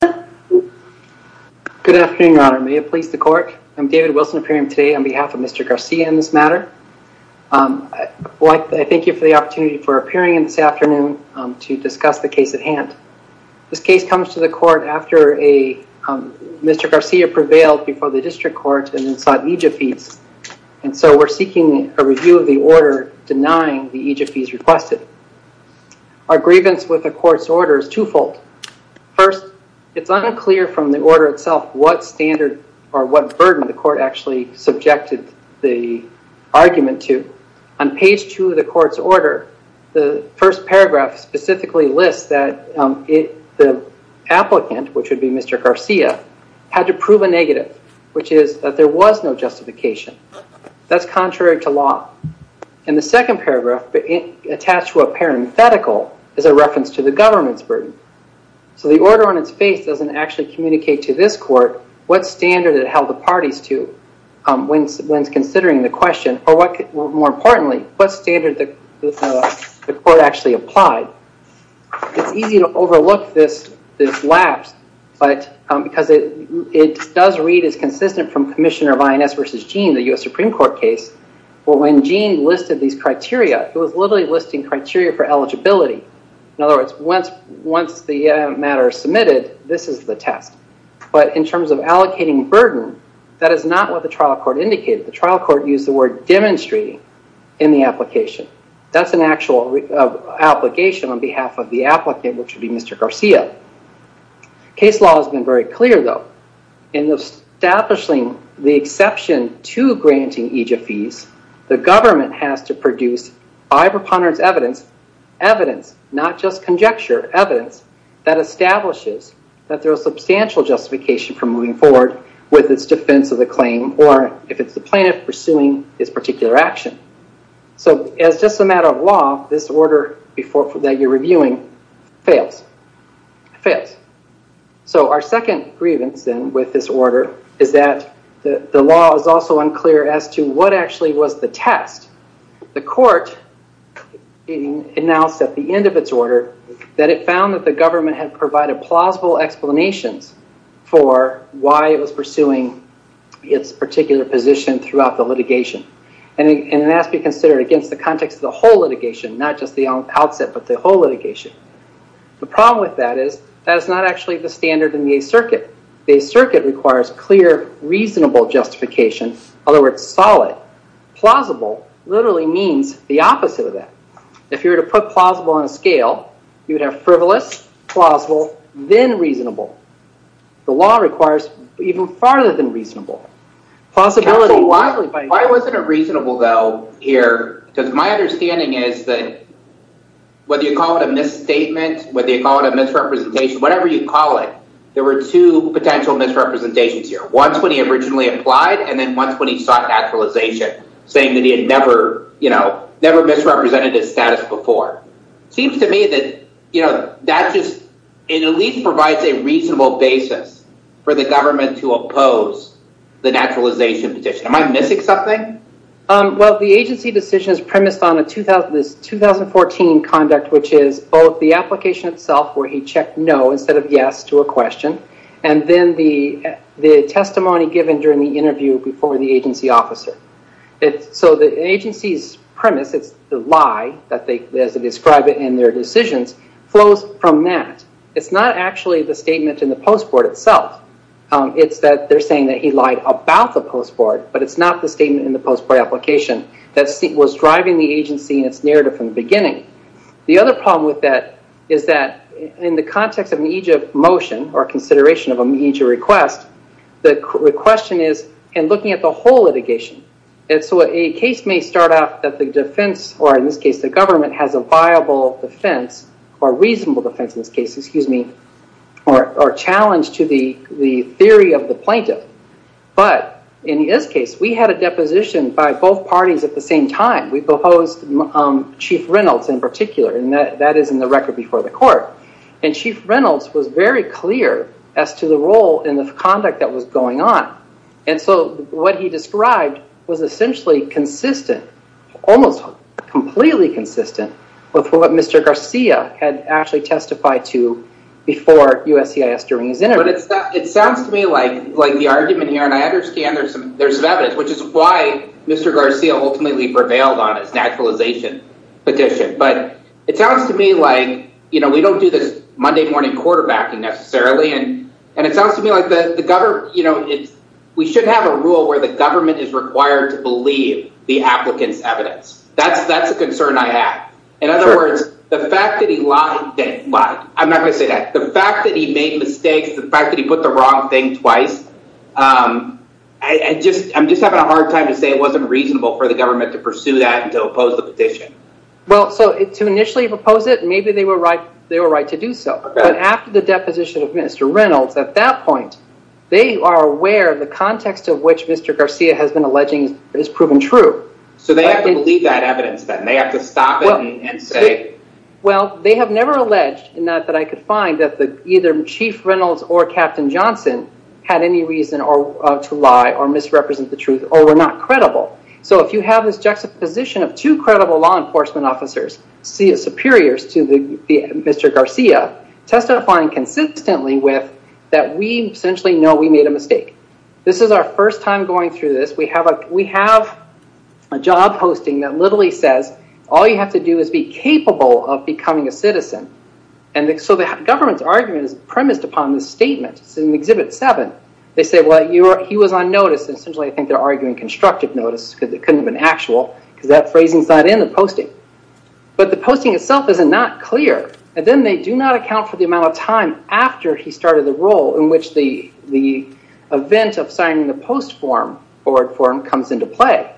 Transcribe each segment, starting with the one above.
Good afternoon your honor. May it please the court. I'm David Wilson appearing today on behalf of Mr. Garcia in this matter. I thank you for the opportunity for appearing in this afternoon to discuss the case at hand. This case comes to the court after Mr. Garcia prevailed before the district court and sought EJF fees. And so we're seeking a review of the order denying the EJF fees requested. Our grievance with the court's order is twofold. First, it's unclear from the order itself what standard or what burden the court actually subjected the argument to. On page two of the court's order, the first paragraph specifically lists that the applicant, which would be Mr. Garcia, had to prove a negative, which is that there was no justification. That's contrary to law. In the second paragraph, attached to a parenthetical, is a reference to the government's burden. So the order on its face doesn't actually communicate to this court what standard it held the parties to when considering the question, or more importantly, what standard the court actually applied. It's easy to overlook this lapse because it does read as consistent from Commissioner of INS v. Gene, the U.S. Supreme Court case, where when Gene listed these criteria, he was literally listing criteria for eligibility. In other words, once the matter is submitted, this is the test. But in terms of allocating burden, that is not what the trial court indicated. The trial court used the word demonstrating in the application. That's an actual application on behalf of the applicant, which would be Mr. Garcia. Case law has been very clear, though. In establishing the exception to granting EJF fees, the government has to produce, by preponderance of evidence, evidence, not just conjecture, evidence that establishes that there is substantial justification for moving forward with its defense of the claim or, if it's the plaintiff, pursuing its particular action. As just a matter of law, this order that you're reviewing fails. Our second grievance, then, with this order is that the law is also unclear as to what actually was the test. The court announced at the end of its order that it found that the government had provided plausible explanations for why it was pursuing its particular position throughout the litigation. And it has to be considered against the context of the whole litigation, not just the outset, but the whole litigation. The problem with that is, that is not actually the standard in the Eighth Circuit. The Eighth Circuit requires clear, reasonable justification. In other words, solid. Plausible literally means the opposite of that. If you were to put plausible on a scale, you would have frivolous, plausible, then reasonable. The law requires even farther than reasonable. Why wasn't it reasonable, though, here? Because my understanding is that, whether you call it a misstatement, whether you call it a misrepresentation, whatever you call it, there were two potential misrepresentations here. Once when he originally applied, and then once when he sought naturalization, saying that he had never misrepresented his status before. It seems to me that, you know, that just at least provides a reasonable basis for the government to oppose the naturalization petition. Am I missing something? Well, the agency decision is premised on this 2014 conduct, which is both the application itself, where he checked no instead of yes to a question, and then the testimony given during the interview before the agency officer. So the agency's premise, it's the lie, as they describe it in their decisions, flows from that. It's not actually the statement in the post board itself. It's that they're saying that he lied about the post board, but it's not the statement in the post board application that was driving the agency and its narrative from the beginning. The other problem with that is that in the context of an EJIP motion, or consideration of an EJIP request, the question is, and looking at the whole litigation. And so a case may start out that the defense, or in this case the government, has a viable defense, or reasonable defense in this case, excuse me, or a challenge to the theory of the plaintiff. But in this case, we had a deposition by both parties at the same time. We proposed Chief Reynolds in particular, and that is in the record before the court. And Chief Reynolds was very clear as to the role in the conduct that was going on. And so what he described was essentially consistent, almost completely consistent with what Mr. Garcia had actually testified to before USCIS during his interview. But it sounds to me like the argument here, and I understand there's some evidence, which is why Mr. Garcia ultimately prevailed on his naturalization petition. But it sounds to me like we don't do this Monday morning quarterbacking necessarily, and it sounds to me like the government, you know, we shouldn't have a rule where the government is required to believe the applicant's evidence. That's a concern I have. In other words, the fact that he lied, I'm not going to say that, the fact that he made mistakes, the fact that he put the wrong thing twice, I'm just having a hard time to say it wasn't reasonable for the government to pursue that and to oppose the petition. Well, so to initially oppose it, maybe they were right to do so. But after the deposition of Mr. Reynolds, at that point, they are aware the context of which Mr. Garcia has been alleging is proven true. So they have to believe that evidence, then? They have to stop it and say? Well, they have never alleged that I could find that either Chief Reynolds or Captain Johnson had any reason to lie or misrepresent the truth or were not credible. So if you have this juxtaposition of two credible law enforcement officers, see as superiors to Mr. Garcia, testifying consistently with that we essentially know we made a mistake. This is our first time going through this. We have a job posting that literally says, all you have to do is be capable of becoming a citizen. So the government's argument is premised upon this statement. It's in Exhibit 7. They say, well, he was on notice. Essentially, I think they're arguing constructive notice because it couldn't have been actual because that phrasing is not in the posting. But the posting itself is not clear. And then they do not account for the amount of time after he started the role in which the event of signing the post form, forward form, comes into play.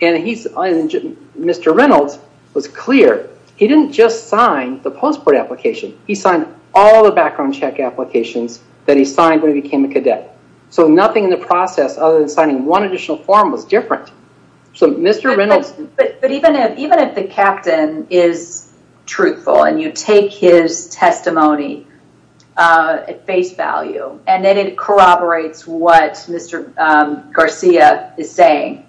And Mr. Reynolds was clear. He didn't just sign the post board application. He signed all the background check applications that he signed when he became a cadet. So nothing in the process other than signing one additional form was different. But even if the captain is truthful and you take his testimony at face value and then it corroborates what Mr. Garcia is saying,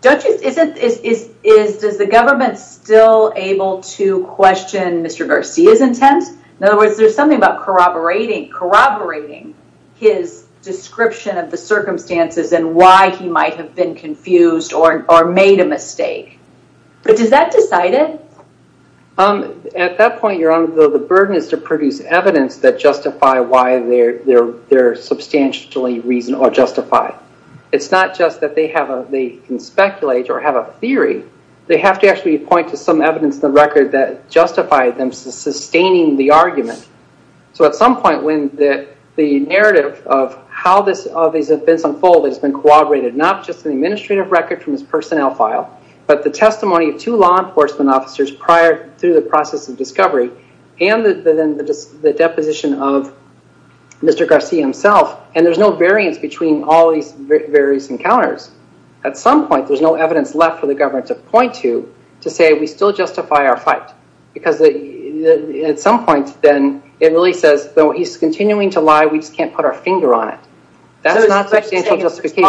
does the government still able to question Mr. Garcia's intent? In other words, there's something about corroborating his description of the circumstances and why he might have been confused or made a mistake. But does that decide it? At that point, Your Honor, the burden is to produce evidence that justify why they're substantially reasonable or justified. It's not just that they can speculate or have a theory. They have to actually point to some evidence in the record that justified them sustaining the argument. So at some point when the narrative of how these events unfold has been corroborated, not just in the administrative record from his personnel file, but the testimony of two law enforcement officers prior to the process of discovery and then the deposition of Mr. Garcia himself, and there's no variance between all these various encounters. At some point, there's no evidence left for the government to point to to say we still justify our fight. Because at some point, then, it really says he's continuing to lie. We just can't put our finger on it. That's not substantial justification.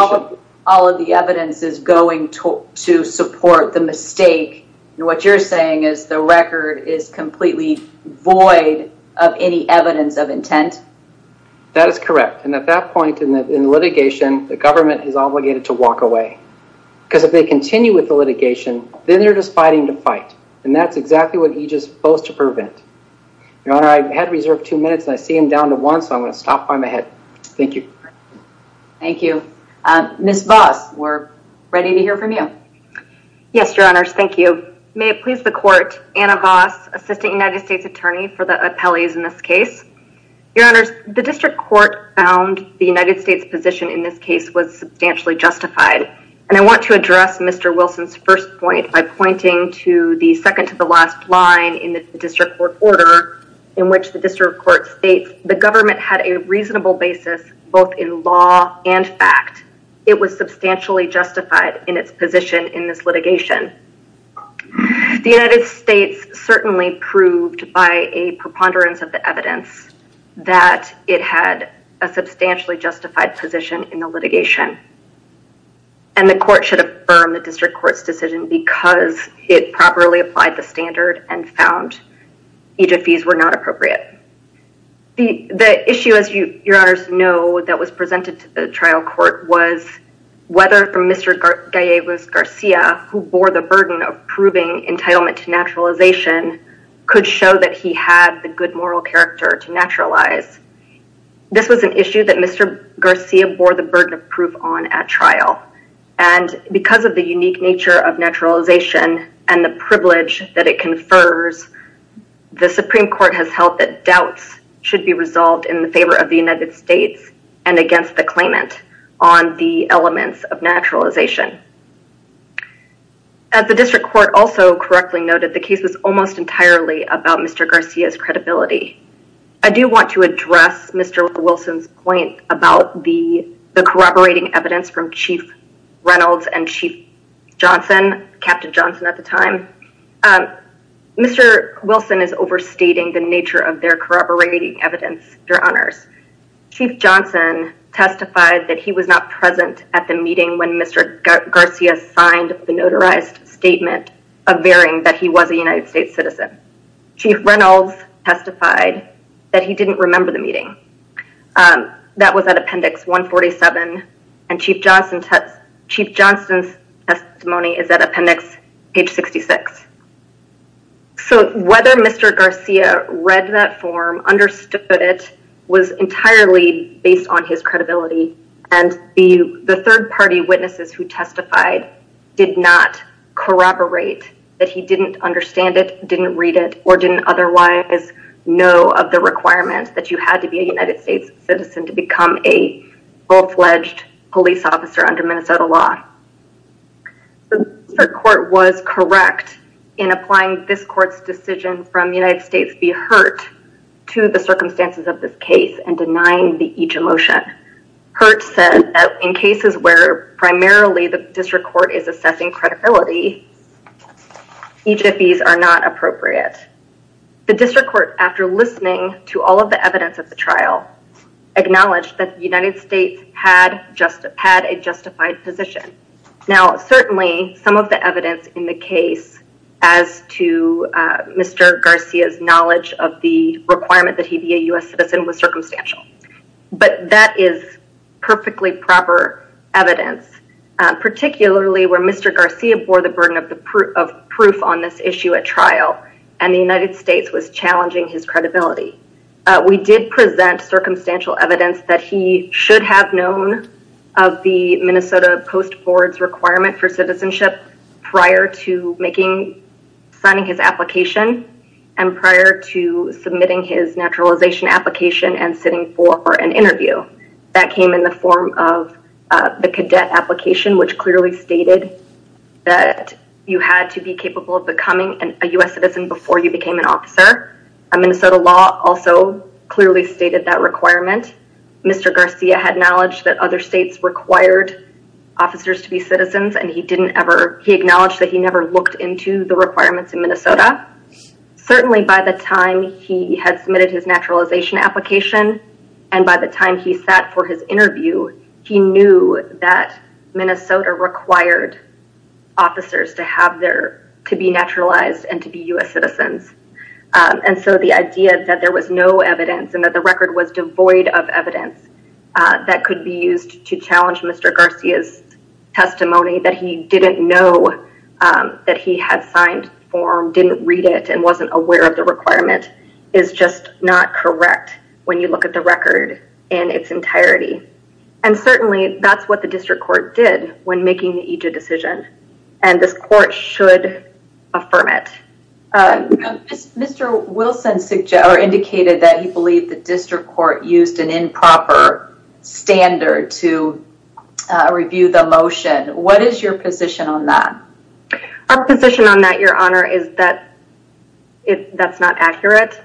All of the evidence is going to support the mistake. And what you're saying is the record is completely void of any evidence of intent? That is correct. And at that point in the litigation, the government is obligated to walk away. Because if they continue with the litigation, then they're just fighting the fight. And that's exactly what he's supposed to prevent. Your Honor, I had reserved two minutes, and I see him down to one, so I'm going to stop by my head. Thank you. Thank you. Ms. Voss, we're ready to hear from you. Yes, Your Honors, thank you. May it please the Court, Anna Voss, Assistant United States Attorney for the Appellees in this case. Your Honors, the district court found the United States' position in this case was substantially justified. And I want to address Mr. Wilson's first point by pointing to the second-to-the-last line in the district court order in which the district court states the government had a reasonable basis both in law and fact. It was substantially justified in its position in this litigation. The United States certainly proved by a preponderance of the evidence that it had a substantially justified position in the litigation. And the court should affirm the district court's decision because it properly applied the standard and found EJFEs were not appropriate. The issue, as Your Honors know, that was presented to the trial court was whether for Mr. Gallegos-Garcia, who bore the burden of proving entitlement to naturalization, could show that he had the good moral character to naturalize. This was an issue that Mr. Garcia bore the burden of proof on at trial. And because of the unique nature of naturalization and the privilege that it confers, the Supreme Court has held that doubts should be resolved in favor of the United States and against the claimant on the elements of naturalization. As the district court also correctly noted, the case was almost entirely about Mr. Garcia's credibility. I do want to address Mr. Wilson's point about the corroborating evidence from Chief Reynolds and Chief Johnson, Captain Johnson at the time. Mr. Wilson is overstating the nature of their corroborating evidence, Your Honors. Chief Johnson testified that he was not present at the meeting when Mr. Garcia signed the notarized statement averting that he was a United States citizen. Chief Reynolds testified that he didn't remember the meeting. That was at Appendix 147, and Chief Johnson's testimony is at Appendix page 66. So whether Mr. Garcia read that form, understood it, was entirely based on his credibility. And the third-party witnesses who testified did not corroborate that he didn't understand it, didn't read it, or didn't otherwise know of the requirement that you had to be a United States citizen to become a full-fledged police officer under Minnesota law. The district court was correct in applying this court's decision from United States v. Hurt to the circumstances of this case and denying the each-a-motion. Hurt said that in cases where primarily the district court is assessing credibility, each-a-fees are not appropriate. The district court, after listening to all of the evidence at the trial, acknowledged that the United States had a justified position. Now, certainly, some of the evidence in the case as to Mr. Garcia's knowledge of the requirement that he be a U.S. citizen was circumstantial, but that is perfectly proper evidence, particularly where Mr. Garcia bore the burden of proof on this issue at trial, and the United States was challenging his credibility. We did present circumstantial evidence that he should have known of the Minnesota Post Board's requirement for citizenship prior to signing his application and prior to submitting his naturalization application and sitting for an interview. That came in the form of the cadet application, which clearly stated that you had to be capable of becoming a U.S. citizen before you became an officer. Minnesota law also clearly stated that requirement. Mr. Garcia had knowledge that other states required officers to be citizens, and he acknowledged that he never looked into the requirements in Minnesota. Certainly, by the time he had submitted his naturalization application and by the time he sat for his interview, he knew that Minnesota required officers to be naturalized and to be U.S. citizens. And so the idea that there was no evidence and that the record was devoid of evidence that could be used to challenge Mr. Garcia's testimony that he didn't know that he had signed the form, didn't read it, and wasn't aware of the requirement is just not correct when you look at the record in its entirety. And certainly, that's what the district court did when making the EJID decision, and this court should affirm it. Mr. Wilson indicated that he believed the district court used an improper standard to review the motion. What is your position on that? Our position on that, Your Honor, is that that's not accurate.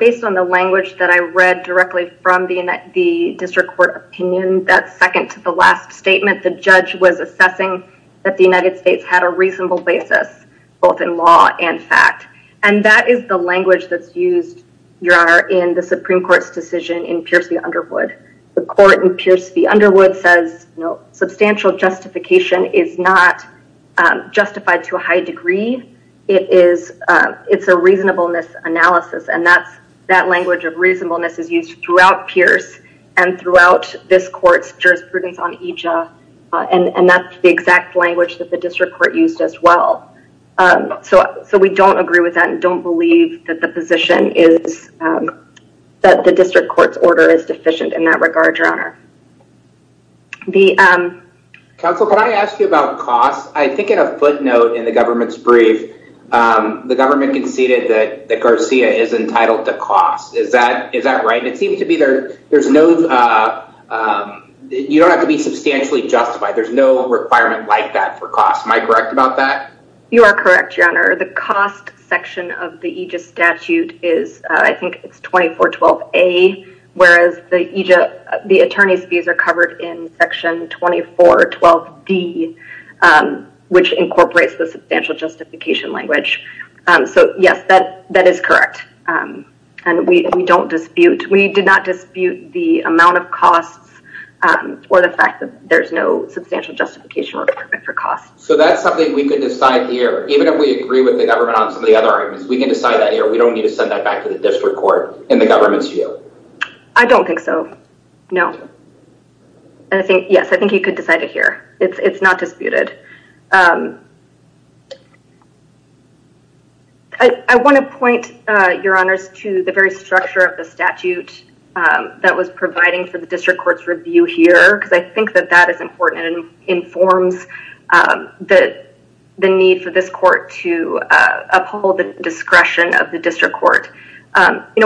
Based on the language that I read directly from the district court opinion, that second to the last statement, the judge was assessing that the United States had a reasonable basis, both in law and fact. And that is the language that's used, Your Honor, in the Supreme Court's decision in Pierce v. Underwood. The court in Pierce v. Underwood says substantial justification is not justified to a high degree. It's a reasonableness analysis, and that language of reasonableness is used throughout Pierce and throughout this court's jurisprudence on EJID, and that's the exact language that the district court used as well. So we don't agree with that and don't believe that the position is that the district court's order is deficient in that regard, Your Honor. Counsel, can I ask you about costs? I think in a footnote in the government's brief, the government conceded that Garcia is entitled to costs. Is that right? It seems to be there's no – you don't have to be substantially justified. There's no requirement like that for costs. You are correct, Your Honor. The cost section of the EJID statute is – I think it's 2412A, whereas the EJID – the attorney's fees are covered in section 2412D, which incorporates the substantial justification language. So, yes, that is correct, and we don't dispute – we did not dispute the amount of costs or the fact that there's no substantial justification requirement for costs. So that's something we could decide here. Even if we agree with the government on some of the other arguments, we can decide that here. We don't need to send that back to the district court in the government's view. I don't think so, no. Yes, I think you could decide it here. It's not disputed. I want to point, Your Honors, to the very structure of the statute that was providing for the district court's review here, because I think that that is important and informs the need for this court to uphold the discretion of the district court.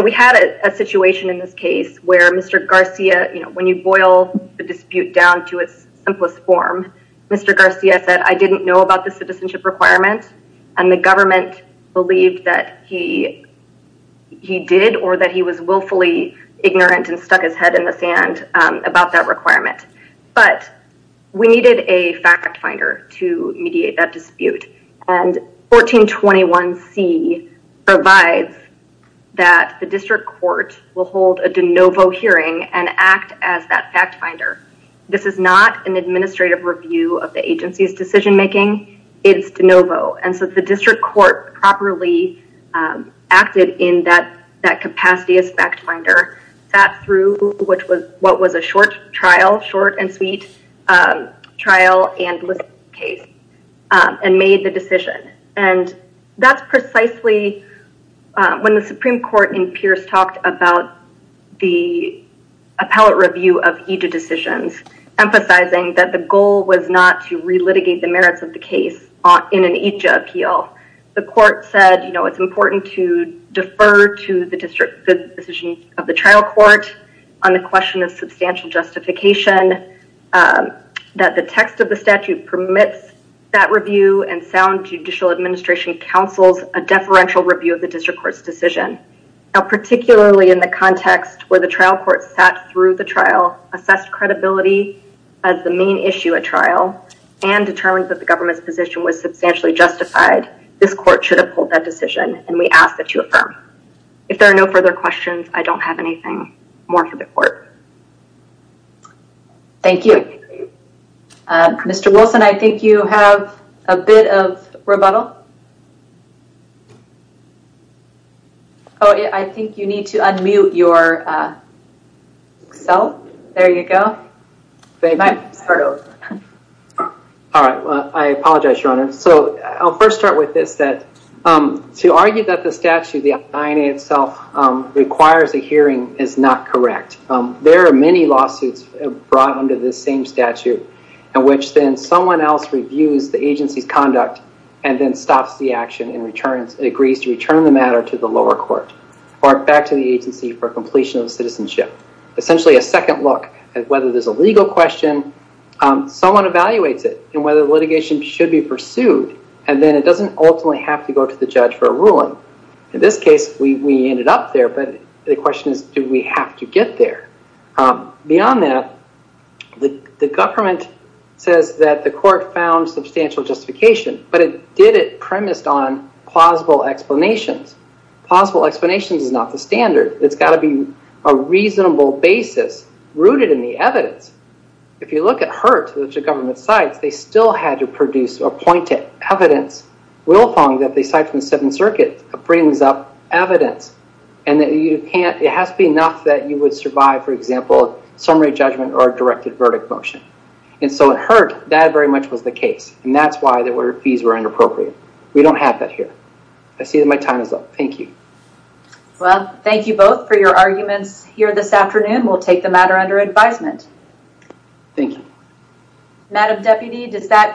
We had a situation in this case where Mr. Garcia – when you boil the dispute down to its simplest form, Mr. Garcia said, I didn't know about the citizenship requirement, and the government believed that he did or that he was willfully ignorant and stuck his head in the sand about that requirement. But we needed a fact finder to mediate that dispute, and 1421C provides that the district court will hold a de novo hearing and act as that fact finder. This is not an administrative review of the agency's decision making. It is de novo. The district court properly acted in that capacity as fact finder, sat through what was a short trial, short and sweet trial and listening case, and made the decision. That's precisely when the Supreme Court in Pierce talked about the appellate review of IJA decisions, emphasizing that the goal was not to re-litigate the merits of the case in an IJA appeal. The court said it's important to defer to the decision of the trial court on the question of substantial justification, that the text of the statute permits that review, and sound judicial administration counsels a deferential review of the district court's decision. Now particularly in the context where the trial court sat through the trial, assessed credibility as the main issue at trial, and determined that the government's position was substantially justified, this court should uphold that decision, and we ask that you affirm. If there are no further questions, I don't have anything more for the court. Thank you. Mr. Wilson, I think you have a bit of rebuttal. Oh, I think you need to unmute yourself. There you go. All right. I apologize, Your Honor. So I'll first start with this, that to argue that the statute, the IJA itself, requires a hearing is not correct. There are many lawsuits brought under this same statute, in which then someone else reviews the agency's conduct, and then stops the action and agrees to return the matter to the lower court, or back to the agency for completion of citizenship. Essentially a second look at whether there's a legal question, someone evaluates it, and whether litigation should be pursued, and then it doesn't ultimately have to go to the judge for a ruling. In this case, we ended up there, but the question is, do we have to get there? Beyond that, the government says that the court found substantial justification, but it did it premised on plausible explanations. Plausible explanations is not the standard. It's got to be a reasonable basis rooted in the evidence. If you look at Hurt, which the government cites, they still had to produce a point of evidence. Wilfong, that they cite from the Seventh Circuit, brings up evidence, and it has to be enough that you would survive, for example, summary judgment or a directed verdict motion. In Hurt, that very much was the case, and that's why the fees were inappropriate. We don't have that here. I see that my time is up. Thank you. Well, thank you both for your arguments here this afternoon. We'll take the matter under advisement. Thank you. Madam Deputy, does that.